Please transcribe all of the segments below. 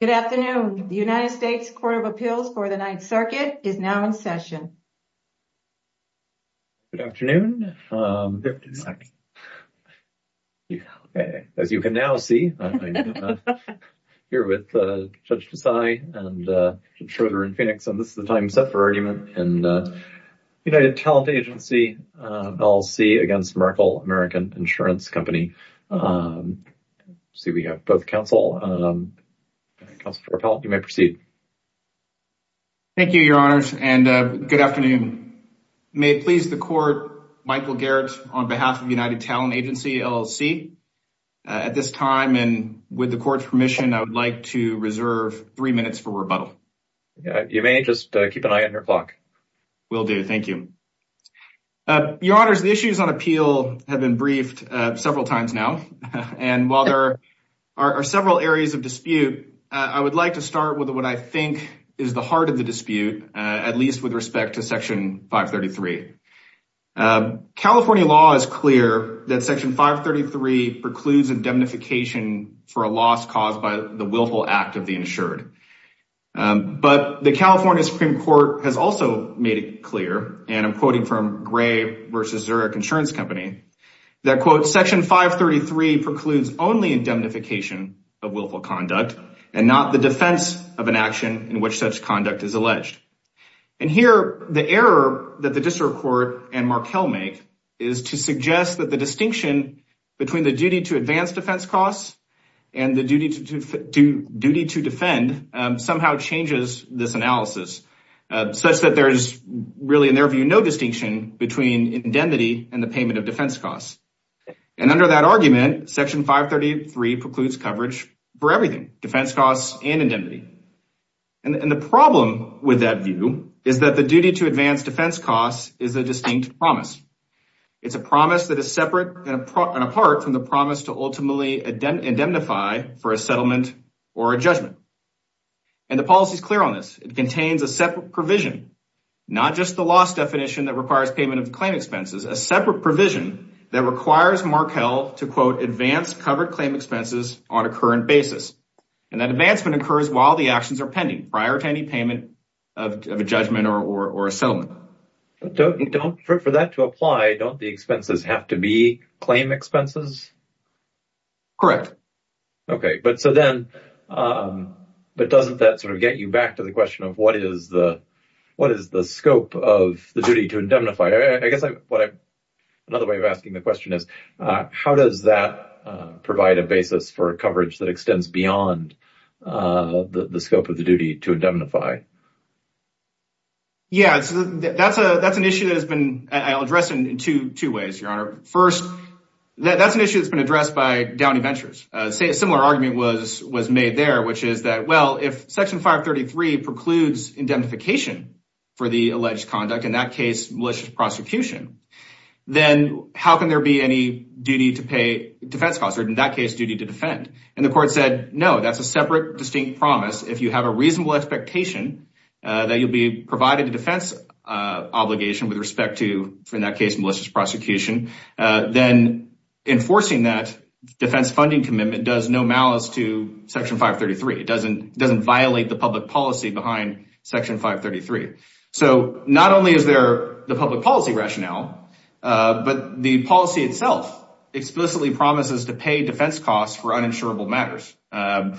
Good afternoon. The United States Court of Appeals for the Ninth Circuit is now in session. Good afternoon. As you can now see, I'm here with Judge Desai and Judge Schroeder in Phoenix, and this is the time set for argument in the United Talent Agency, LLC against Markel American Insurance Company. I see we have both counsel. Counsel for appellate, you may proceed. Thank you, Your Honors, and good afternoon. May it please the court, Michael Garrett on behalf of United Talent Agency, LLC, at this time and with the court's permission, I would like to reserve three minutes for rebuttal. You may just keep an eye on your clock. Will do. Thank you. Your several times now, and while there are several areas of dispute, I would like to start with what I think is the heart of the dispute, at least with respect to Section 533. California law is clear that Section 533 precludes indemnification for a loss caused by the willful act of the insured. But the California Supreme Court has also made it clear, and I'm quoting from Gray versus Zurich Insurance Company, that quote, Section 533 precludes only indemnification of willful conduct and not the defense of an action in which such conduct is alleged. And here, the error that the District Court and Markel make is to suggest that the distinction between the duty to advance defense costs and the duty to defend somehow changes this analysis, such that there's really, in their view, no distinction between indemnity and the payment of defense costs. And under that argument, Section 533 precludes coverage for everything, defense costs and indemnity. And the problem with that view is that the duty to advance defense costs is a distinct promise. It's a promise that is separate and apart from the promise to ultimately indemnify for a settlement or a judgment. And the policy is clear on this. It contains a separate provision, not just the loss definition that requires payment of claim expenses, a separate provision that requires Markel to, quote, advance covered claim expenses on a current basis. And that advancement occurs while the actions are pending prior to any payment of a judgment or a settlement. But for that to apply, don't the expenses have to be claim expenses? Correct. Okay, but so then, but doesn't that sort of get you back to the question of what is the scope of the duty to indemnify? I guess another way of asking the question is, how does that provide a basis for coverage that extends beyond the scope of the duty to indemnify? Yeah, that's an issue that has been addressed in two ways, Your Honor. First, that's an issue that's been addressed by Downey Ventures. A similar argument was made there, which is that, well, if Section 533 precludes indemnification for the alleged conduct, in that case, malicious prosecution, then how can there be any duty to pay defense costs, or in that case, duty to defend? And the court said, no, that's a separate, distinct promise. If you have a reasonable expectation that you'll be provided a defense obligation with respect to, in that case, malicious prosecution, then enforcing that defense funding commitment does no malice to Section 533. It doesn't violate the public policy behind Section 533. So not only is there the public policy rationale, but the policy itself explicitly promises to pay defense costs for uninsurable matters. And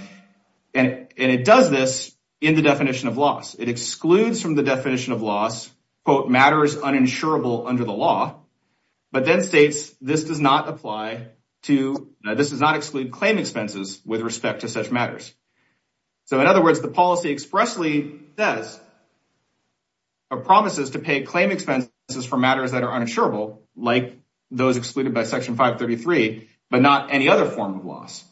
it does this in the definition of loss. It excludes from the definition of loss, quote, matters uninsurable under the law, but then states this does not exclude claim expenses with respect to such matters. So in other words, the policy expressly says, or promises to pay claim expenses for matters that are uninsurable, like those excluded by Section 533, but not any other form of loss.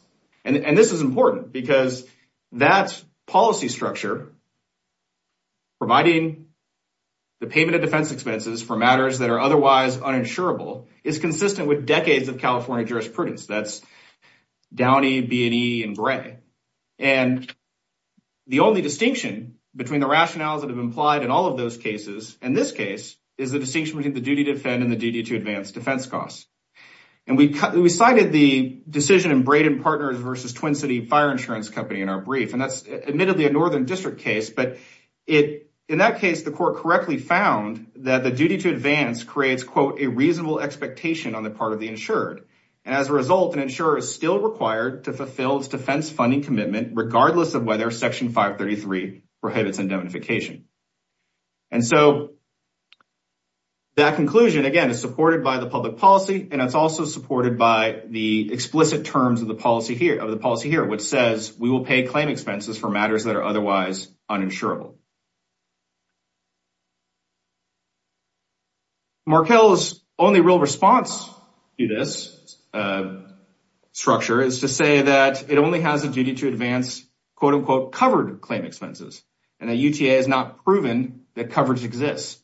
And this is important because that policy structure, providing the payment of defense expenses for matters that are otherwise uninsurable, is consistent with decades of California jurisprudence. That's Downey, B&E, and Gray. And the only distinction between the rationales that have implied in all of those cases, in this case, is the distinction between the duty to defend and the duty to advance defense costs. And we cited the decision in Brayden Partners versus Twin City Fire Insurance Company in our case, but in that case, the court correctly found that the duty to advance creates, quote, a reasonable expectation on the part of the insured. And as a result, an insurer is still required to fulfill its defense funding commitment, regardless of whether Section 533 prohibits indemnification. And so that conclusion, again, is supported by the public policy, and it's also supported by the explicit terms of the policy here, which says we will pay claim expenses for otherwise uninsurable. Markell's only real response to this structure is to say that it only has a duty to advance, quote, unquote, covered claim expenses, and the UTA has not proven that coverage exists.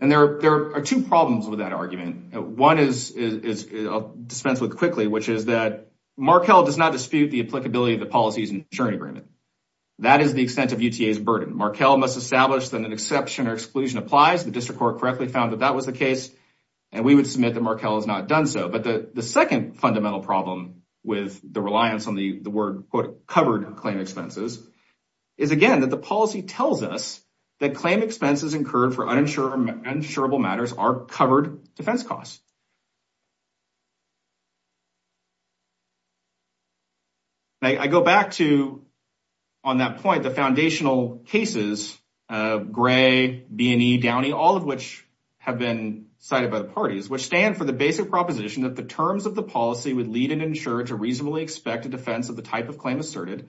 And there are two problems with that argument. One is dispensed with quickly, which is that Markell does not dispute the applicability of the policies and insurance agreement. That is the extent of UTA's burden. Markell must establish that an exception or exclusion applies. The district court correctly found that that was the case, and we would submit that Markell has not done so. But the second fundamental problem with the reliance on the word, quote, covered claim expenses is, again, that the policy tells us that claim expenses incurred for uninsurable matters are covered defense costs. Now, I go back to, on that point, the foundational cases, Gray, B&E, Downey, all of which have been cited by the parties, which stand for the basic proposition that the terms of the policy would lead an insurer to reasonably expect a defense of the type of claim asserted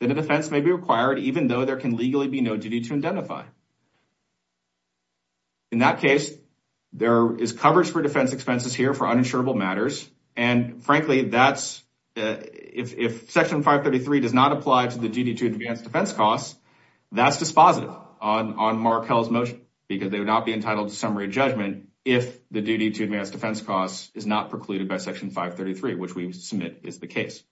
that a defense may be required, even though there can legally be no duty to identify. In that case, there is coverage for defense expenses here for uninsurable matters. And frankly, that's, if Section 533 does not apply to the duty to advance defense costs, that's dispositive on Markell's motion, because they would not be entitled to summary judgment if the duty to advance defense costs is not precluded by Section 533, which we submit is the case.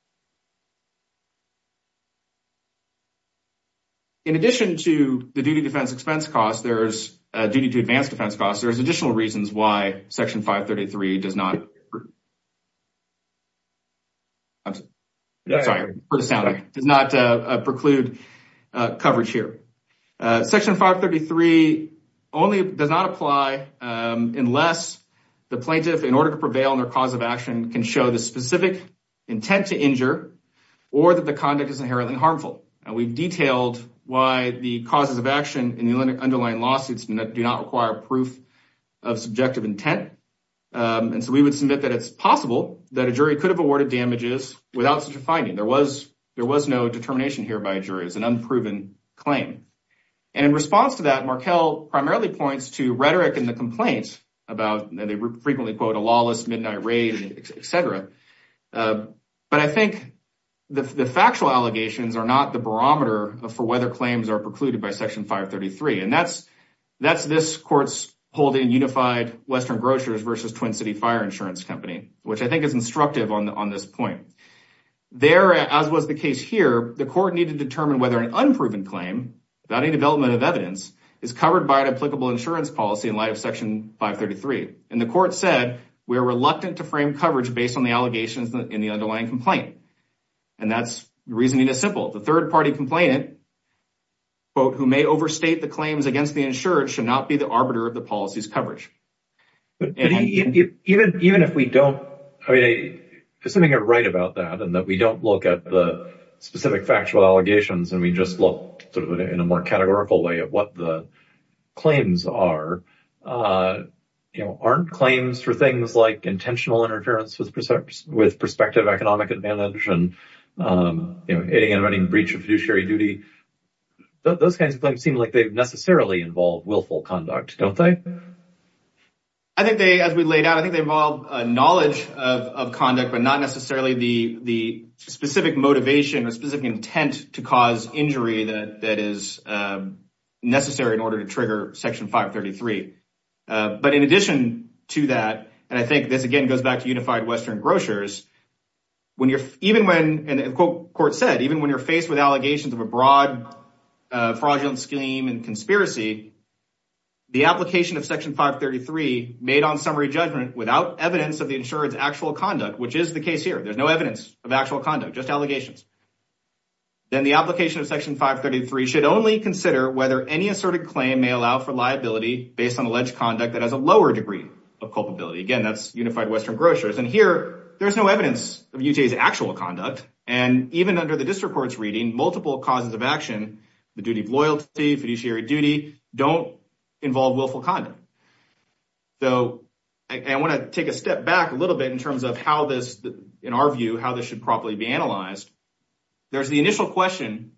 In addition to the duty defense expense costs, there's a duty to advance defense costs. There's additional reasons why Section 533 does not preclude coverage here. Section 533 only does not apply unless the plaintiff, in order to prevail on their cause of action, can show the specific intent to injure or that the conduct is inherently harmful. And we've detailed why the causes of action in the underlying lawsuits do not require proof of subjective intent. And so we would submit that it's possible that a jury could have awarded damages without such a finding. There was no determination here by a jury. It's an unproven claim. And in response to that, Markell primarily points to rhetoric in the complaints about, and they frequently quote, a lawless midnight raid, etc. But I think the factual allegations are not the barometer for whether claims are precluded by Section 533. And that's this court's holding Unified Western Grocers versus Twin City Fire Insurance Company, which I think is instructive on this point. There, as was the case here, the court needed to determine whether an unproven claim, without any development of evidence, is covered by an insurance policy in light of Section 533. And the court said, we are reluctant to frame coverage based on the allegations in the underlying complaint. And that's, the reasoning is simple. The third party complainant, quote, who may overstate the claims against the insured should not be the arbiter of the policy's coverage. Even if we don't, I mean, assuming you're right about that and that we don't look at the specific factual allegations and we just look sort of in a categorical way at what the claims are, you know, aren't claims for things like intentional interference with prospective economic advantage and, you know, hitting and running breach of fiduciary duty, those kinds of things seem like they necessarily involve willful conduct, don't they? I think they, as we laid out, I think they involve a knowledge of conduct, but not necessarily the specific motivation or specific intent to cause injury that is necessary in order to trigger Section 533. But in addition to that, and I think this again goes back to Unified Western Grocers, when you're, even when, and the court said, even when you're faced with allegations of a broad fraudulent scheme and conspiracy, the application of Section 533 made on summary judgment without evidence of the insurer's actual conduct, which is the case here. There's no evidence of actual conduct, just allegations. Then the application of Section 533 should only consider whether any asserted claim may allow for liability based on alleged conduct that has a lower degree of culpability. Again, that's Unified Western Grocers. And here there's no evidence of UTA's actual conduct. And even under the district court's reading, multiple causes of action, the duty of loyalty, fiduciary duty, don't involve willful conduct. So I want to take a step back a little bit in terms of how this, in our view, how this should properly be analyzed. There's the initial question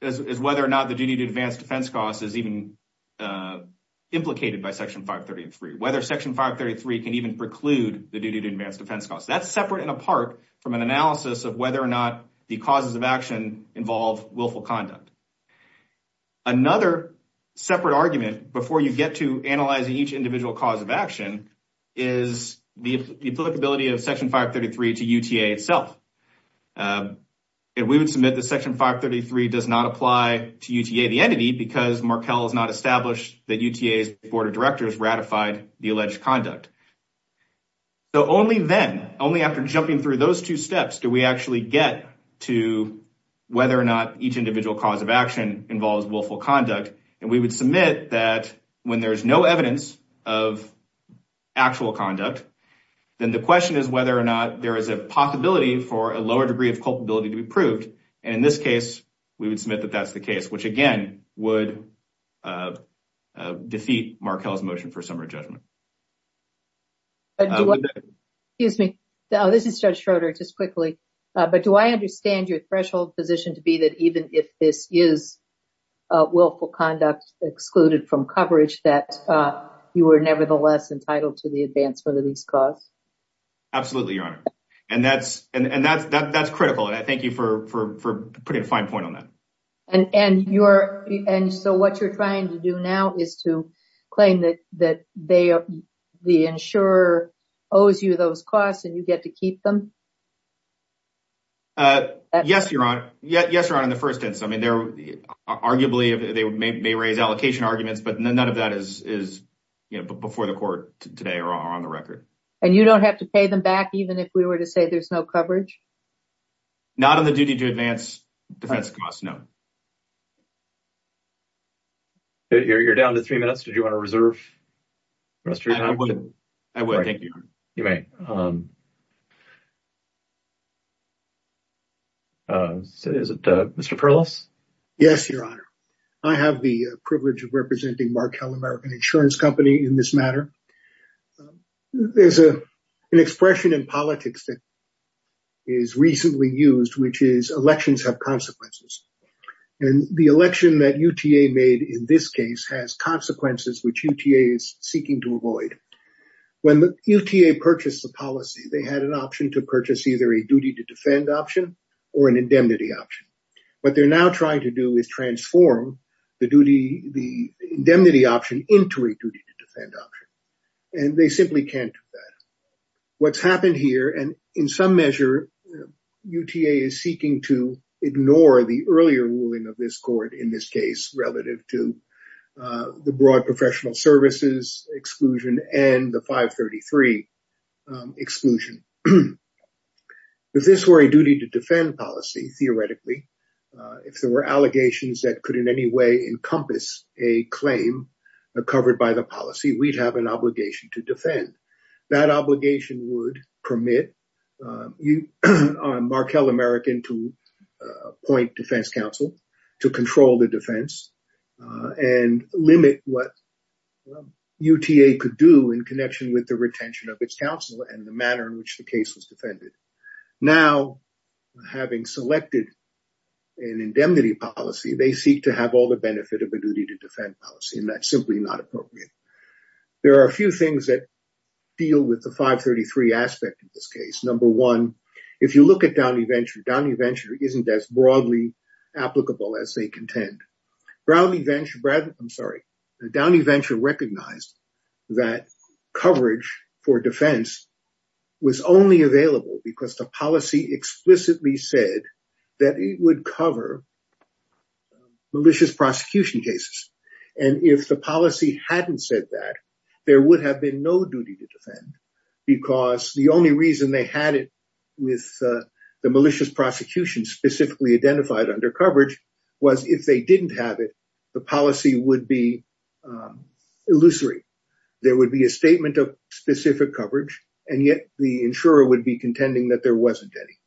is whether or not the duty to advance defense costs is even implicated by Section 533. Whether Section 533 can even preclude the duty to advance defense costs. That's separate and apart from an analysis of whether or not the causes of action involve willful conduct. Another separate argument before you get to analyzing each individual cause of action is the applicability of Section 533 to UTA itself. And we would submit that Section 533 does not apply to UTA the entity because Markel has not established that UTA's board of directors ratified the alleged conduct. So only then, only after jumping through those two steps, do we actually get to whether or not each individual cause of action involves willful conduct. And we submit that when there's no evidence of actual conduct, then the question is whether or not there is a possibility for a lower degree of culpability to be proved. And in this case, we would submit that that's the case, which again would defeat Markel's motion for summary judgment. Excuse me. This is Judge Schroeder, just quickly. But do I understand your threshold position to be that even if this is willful conduct excluded from coverage, that you are nevertheless entitled to the advancement of these costs? Absolutely, Your Honor. And that's critical. And I thank you for putting a fine point on that. And so what you're trying to do now is to claim that the insurer owes you those costs and you get to keep them? Yes, Your Honor. Yes, Your Honor, in the first instance. I mean, arguably they may raise allocation arguments, but none of that is before the court today or on the record. And you don't have to pay them back even if we were to say there's no coverage? Not on the duty to advance defense costs, no. You're down to three questions? I would. Thank you. You may. Is it Mr. Perlos? Yes, Your Honor. I have the privilege of representing Markel American Insurance Company in this matter. There's an expression in politics that is recently used, which is elections have consequences. And the election that UTA made in this case has consequences which UTA is seeking to avoid. When UTA purchased the policy, they had an option to purchase either a duty to defend option or an indemnity option. What they're now trying to do is transform the duty, the indemnity option into a duty to defend option. And they simply can't do that. What's happened here, and in some measure, UTA is seeking to ignore the earlier ruling of this in this case relative to the broad professional services exclusion and the 533 exclusion. If this were a duty to defend policy, theoretically, if there were allegations that could in any way encompass a claim covered by the policy, we'd have an obligation to defend. That obligation would permit Markel American to appoint defense counsel to control the defense and limit what UTA could do in connection with the retention of its counsel and the manner in which the case was defended. Now, having selected an indemnity policy, they seek to have all the benefit of a duty to defend policy, and that's simply not appropriate. There are a few things that deal with the 533 aspect of this case. Number one, if you look at Downey Venture, Downey Venture isn't as broadly applicable as they contend. Downey Venture recognized that coverage for defense was only available because the policy explicitly said that it would cover malicious prosecution cases, and if the policy hadn't said that, there would have been no duty to defend because the only reason they had it with the malicious prosecution specifically identified under coverage was if they didn't have it, the policy would be illusory. There would be a statement of specific coverage, and yet the insurer would be contending that there wasn't any.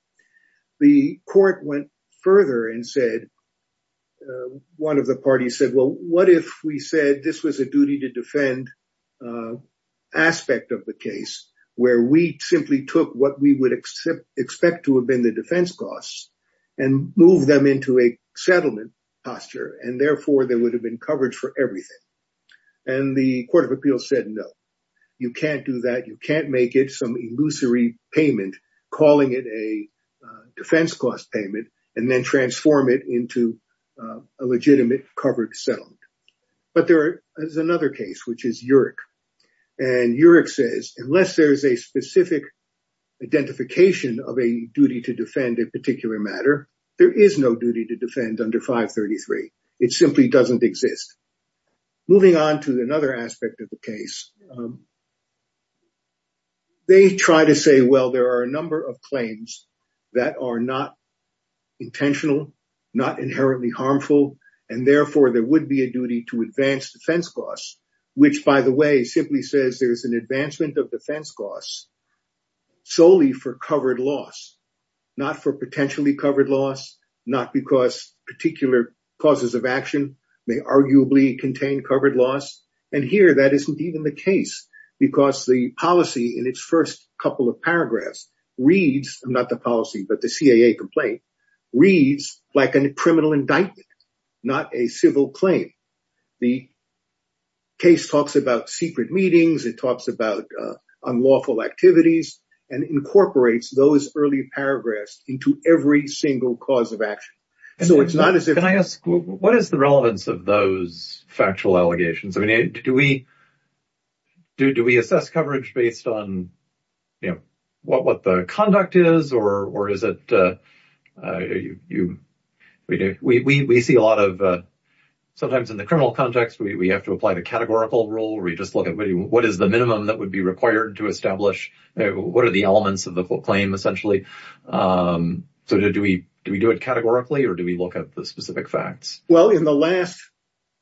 The court went further and said, one of the parties said, well, what if we said this was a duty to defend aspect of the case where we simply took what we would expect to have been the defense costs and move them into a settlement posture, and therefore, there would have been coverage for everything, and the court of appeals said, no, you can't do that. You can't make it some illusory payment calling it a defense cost payment and then transform it into a legitimate covered settlement, but there is another case, which is UREC, and UREC says unless there's a specific identification of a duty to defend a particular matter, there is no duty to defend under 533. It simply doesn't exist. Moving on to another aspect of the case, they try to say, well, there are a number of claims that are not intentional, not inherently harmful, and therefore, there would be a duty to advance defense costs, which, by the way, simply says there's an advancement of defense costs solely for covered loss, not for potentially causes of action. They arguably contain covered loss, and here, that isn't even the case because the policy in its first couple of paragraphs reads, not the policy, but the CAA complaint, reads like a criminal indictment, not a civil claim. The case talks about secret meetings. It talks about unlawful activities and incorporates those early paragraphs into every single cause of action. Can I ask, what is the relevance of those factual allegations? Do we assess coverage based on what the conduct is? We see a lot of, sometimes in the criminal context, we have to apply the categorical rule where we just look at what is the minimum that would be required to establish what are the elements of the claim, essentially. So, do we do it categorically, or do we look at the specific facts? Well, in the last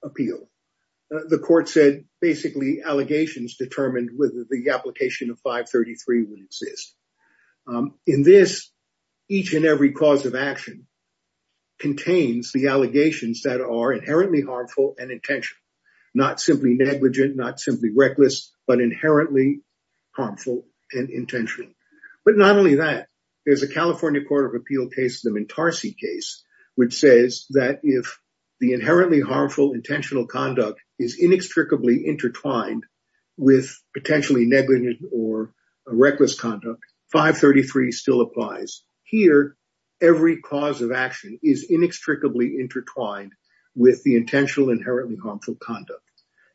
appeal, the court said, basically, allegations determined whether the application of 533 would exist. In this, each and every cause of action contains the allegations that are inherently harmful and intentional, not simply negligent, not simply reckless, but inherently harmful and intentional. But not only that, there's a California Court of Appeal case, the Mentarsi case, which says that if the inherently harmful intentional conduct is inextricably intertwined with potentially negligent or reckless conduct, 533 still applies. Here, every cause of action is inextricably intertwined with the intentional inherently harmful conduct.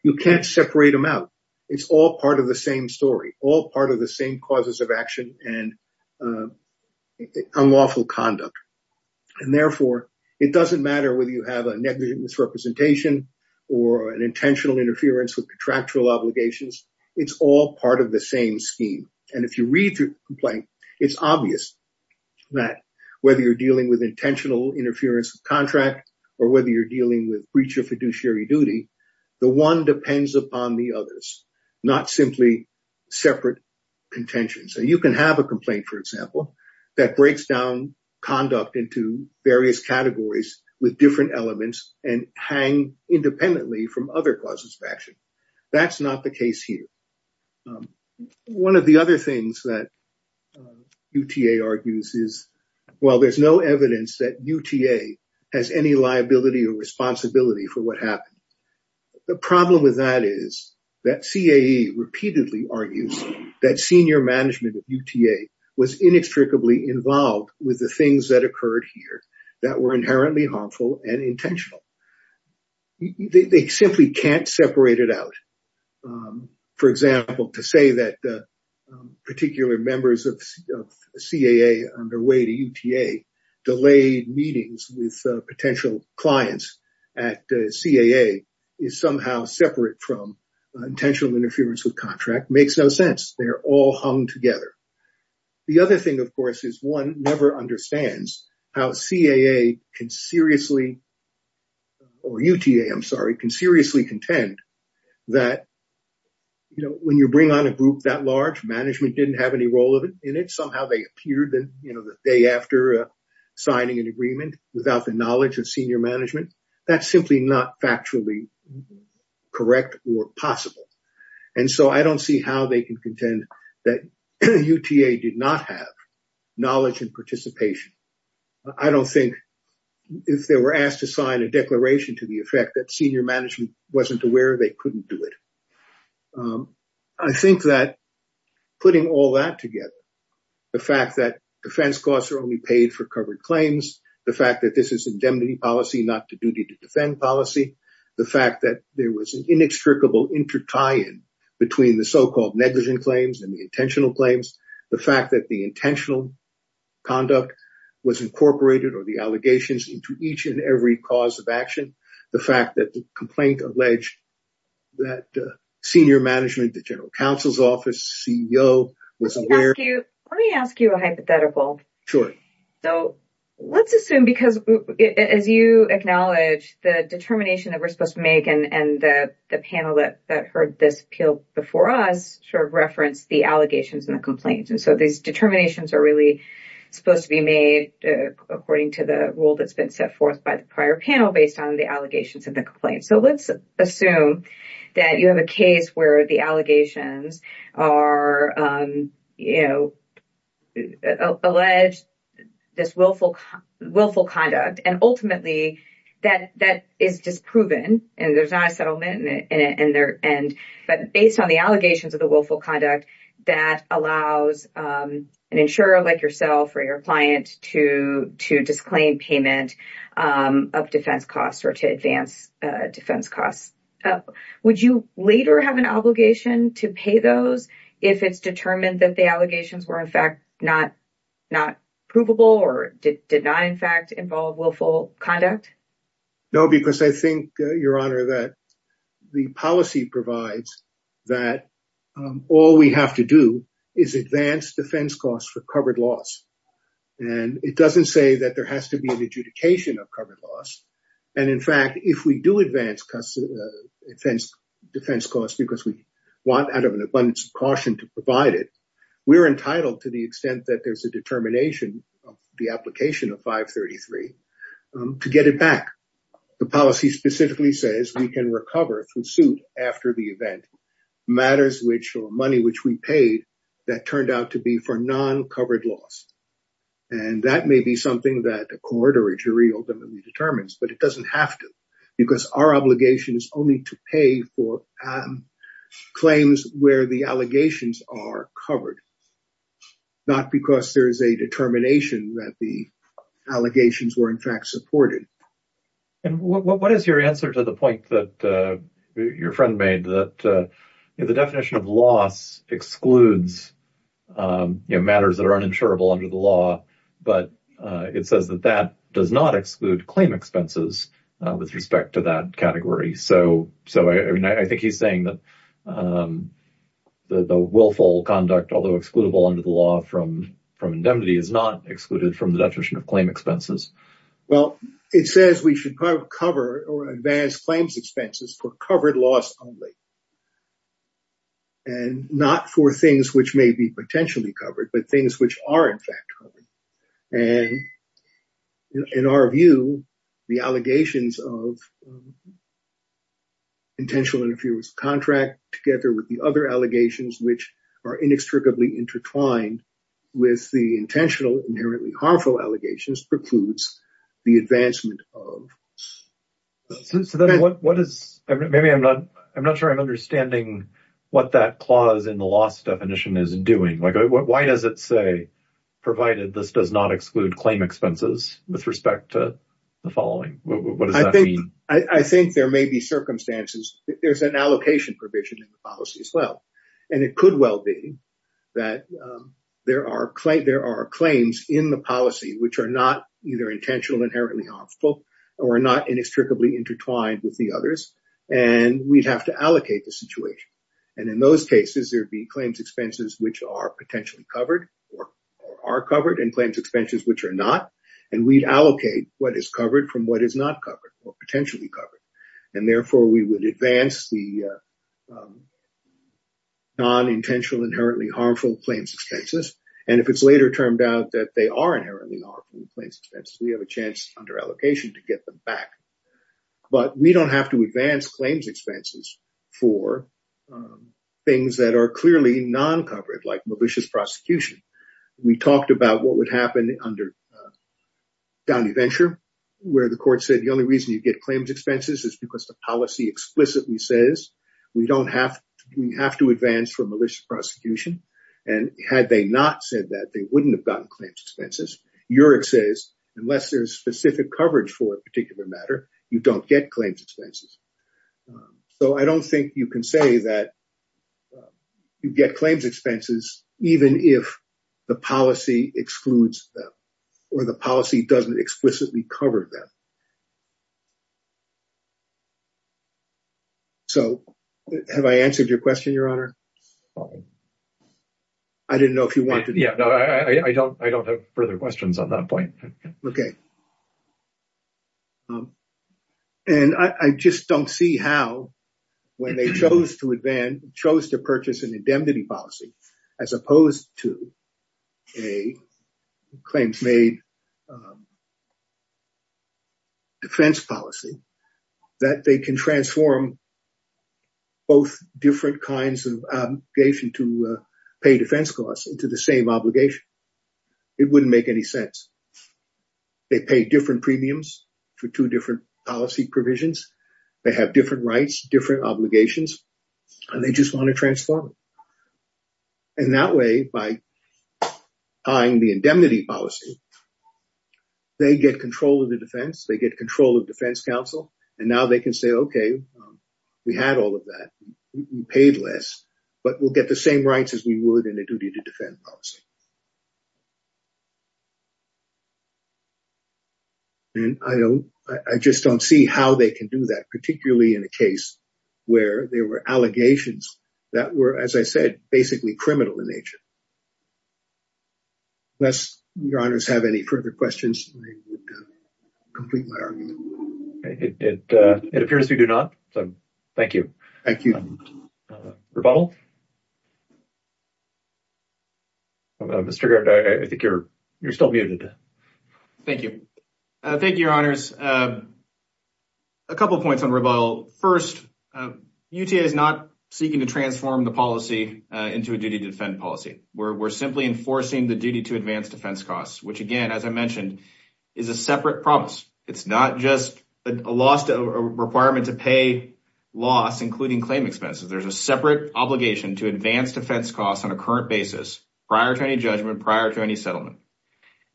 You can't separate them out. It's all part of the same story, all part of the same causes of action and unlawful conduct. And therefore, it doesn't matter whether you have a negligent misrepresentation or an intentional interference with contractual obligations. It's all part of the same scheme. And if you read the complaint, it's obvious that whether you're dealing with intentional interference of contract or whether you're dealing with breach of fiduciary duty, the one depends upon the others, not simply separate contentions. And you can have a complaint, for example, that breaks down conduct into various categories with different elements and hang independently from other causes of action. That's not the case here. One of the other things that UTA argues is, well, there's no evidence that UTA has any liability or responsibility for what happened. The problem with that is that CAE repeatedly argues that senior management of UTA was inextricably involved with the things that occurred here that were inherently harmful and intentional. They simply can't separate it out. For example, to say that particular members of CAA on their way to UTA delayed meetings with potential clients at CAA is somehow separate from intentional interference with contract makes no sense. They're all hung together. The other thing, of course, is one never understands how UTA can seriously contend that when you bring on a group that large, management didn't have any role in it. Somehow they appeared the day after signing an agreement without the knowledge of senior management. That's simply not factually correct or possible. And so I don't see how they can contend that UTA did not have knowledge and participation. I don't think if they were asked to sign a declaration to the effect that senior management wasn't aware, they couldn't do it. I think that putting all that together, the fact that defense costs are only paid for covered claims, the fact that this is indemnity policy, not the duty to defend policy, the fact that there is an inextricable intertie in between the so-called negligent claims and the intentional claims, the fact that the intentional conduct was incorporated or the allegations into each and every cause of action, the fact that the complaint alleged that senior management, the general counsel's office, CEO wasn't aware. Let me ask you a hypothetical. Sure. So let's assume because as you acknowledge the determination that we're supposed to make and the panel that heard this appeal before us sort of referenced the allegations and the complaints. And so these determinations are really supposed to be made according to the rule that's been set forth by the prior panel based on the allegations and the complaints. So let's assume that you have a case where the allegations are alleged, this willful conduct, and ultimately that is disproven and there's not a settlement but based on the allegations of the willful conduct, that allows an insurer like yourself or your client to disclaim payment of defense costs or to advance defense costs. Would you later have an obligation to pay those if it's determined that the allegations were in fact not provable or did not in fact involve willful conduct? No, because I think, Your Honor, that the policy provides that all we have to do is advance defense costs for covered loss. And it doesn't say that there has to be an adjudication of covered loss. And in fact, if we do advance defense costs because we want out of an abundance of caution to provide it, we're entitled to the extent that there's a determination of the application of 533 to get it back. The policy specifically says we can recover from suit after the event matters which or money which we paid that turned out to be for non-covered loss. And that may be something that a court or a jury ultimately determines, but it doesn't have to because our obligation is only to pay for claims where the allegations are covered, not because there is a determination that the allegations were in fact supported. And what is your answer to the point that your friend made that the definition of loss excludes matters that are uninsurable under the but it says that that does not exclude claim expenses with respect to that category. So I think he's saying that the willful conduct, although excludable under the law from indemnity, is not excluded from the definition of claim expenses. Well, it says we should cover or advance claims expenses for covered loss only. And not for things which may be potentially covered, but things which are in fact covered. And in our view, the allegations of intentional interference contract together with the other allegations which are inextricably intertwined with the intentional inherently harmful allegations precludes the advancement of. So then what is, maybe I'm not sure I'm understanding what that clause in the say provided this does not exclude claim expenses with respect to the following. I think there may be circumstances. There's an allocation provision in the policy as well. And it could well be that there are claims in the policy which are not either intentional inherently harmful or not inextricably intertwined with the others. And we'd have to allocate the And in those cases, there'd be claims expenses which are potentially covered or are covered and claims expenses which are not. And we'd allocate what is covered from what is not covered or potentially covered. And therefore, we would advance the non-intentional inherently harmful claims expenses. And if it's later turned out that they are inherently harmful claims expenses, we have a chance under allocation to get them back. But we don't have to advance claims expenses for things that are clearly non-covered like malicious prosecution. We talked about what would happen under Downey Venture, where the court said the only reason you get claims expenses is because the policy explicitly says, we don't have to, we have to advance for malicious prosecution. And had they not said that, they wouldn't have gotten claims expenses. Yurik says, unless there's specific coverage for a particular matter, you don't get claims expenses. So I don't think you can say that you get claims expenses even if the policy excludes them or the policy doesn't explicitly cover them. So have I answered your question, Your Honor? I didn't know if you wanted to. Yeah, no, I don't have further questions on that point. Okay. And I just don't see how, when they chose to purchase an indemnity policy, as opposed to a claims made defense policy, that they can transform both different kinds of obligation to pay defense costs into the same obligation. It wouldn't make any sense. They pay different premiums for two different policy provisions. They have different rights, different obligations, and they just want to transform it. And that way, by tying the indemnity policy, they get control of the defense, they get control of defense counsel, and now they can say, okay, we had all of that. We paid less, but we'll get the same rights as we would in a duty to defend policy. And I just don't see how they can do that, particularly in a case where there were allegations that were, as I said, basically criminal in nature. Unless Your Honors have any further questions, I would complete my argument. It appears we do not. So, thank you. Thank you. Rebuttal? Mr. Garrett, I think you're still muted. Thank you. Thank you, Your Honors. A couple of points on rebuttal. First, UTA is not seeking to transform the policy into a duty to defend policy. We're simply enforcing the duty to advance defense costs, which again, as I mentioned, is a separate promise. It's not a requirement to pay loss, including claim expenses. There's a separate obligation to advance defense costs on a current basis, prior to any judgment, prior to any settlement.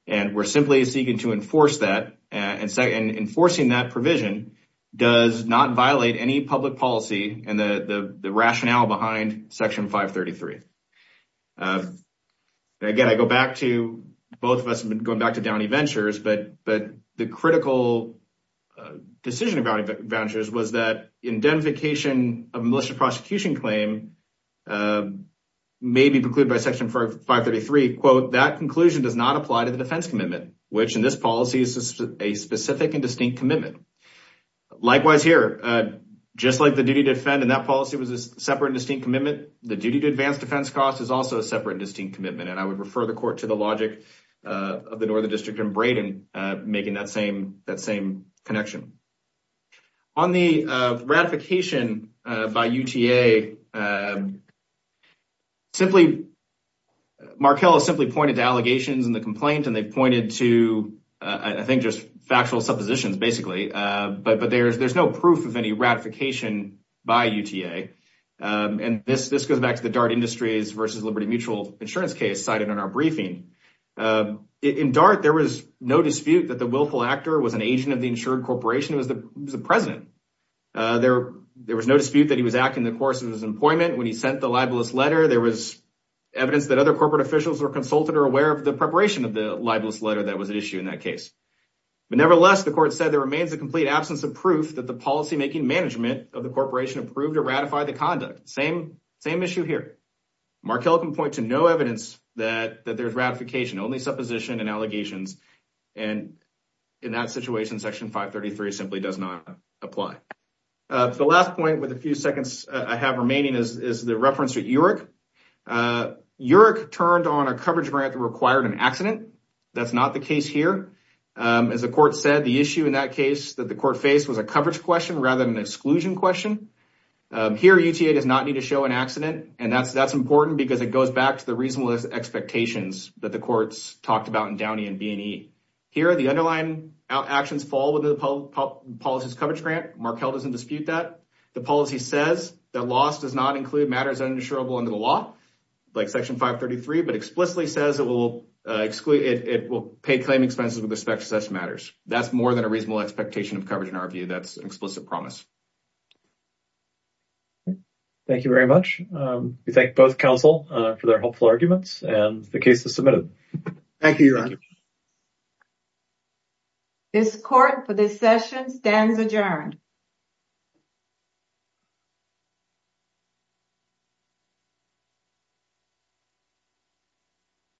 And we're simply seeking to enforce that. And enforcing that provision does not violate any public policy and the rationale behind Section 533. Again, I go back to, both of us have been back to Downey Ventures, but the critical decision of Downey Ventures was that indemnification of a malicious prosecution claim may be precluded by Section 533, quote, that conclusion does not apply to the defense commitment, which in this policy is a specific and distinct commitment. Likewise here, just like the duty to defend in that policy was a separate and distinct commitment, the duty to advance defense costs is also a separate and distinct commitment. And I would ignore the district in Brayden, making that same connection. On the ratification by UTA, simply, Markell has simply pointed to allegations in the complaint and they've pointed to, I think, just factual suppositions, basically. But there's no proof of any ratification by UTA. And this goes back to the DART Industries versus Liberty Mutual Insurance case cited in our briefing. In DART, there was no dispute that the willful actor was an agent of the insured corporation who was the president. There was no dispute that he was acting the course of his employment when he sent the libelous letter. There was evidence that other corporate officials were consulted or aware of the preparation of the libelous letter that was at issue in that case. But nevertheless, the court said there remains a complete absence of proof that the policymaking management of the corporation approved or ratified the conduct. Same issue here. Markell can point to evidence that there's ratification, only supposition and allegations. And in that situation, Section 533 simply does not apply. The last point with a few seconds I have remaining is the reference to URIC. URIC turned on a coverage grant that required an accident. That's not the case here. As the court said, the issue in that case that the court faced was a coverage question rather than an exclusion question. Here, UTA does not need to show an accident. And that's important because it goes back to the reasonable expectations that the courts talked about in Downey and B&E. Here, the underlying actions fall within the policy's coverage grant. Markell doesn't dispute that. The policy says that loss does not include matters uninsurable under the law, like Section 533, but explicitly says it will pay claim expenses with respect to such matters. That's more than a reasonable expectation of coverage in our view. That's an explicit promise. Thank you very much. We thank both counsel for their helpful arguments and the case is submitted. Thank you, Your Honor. This court for this session stands adjourned.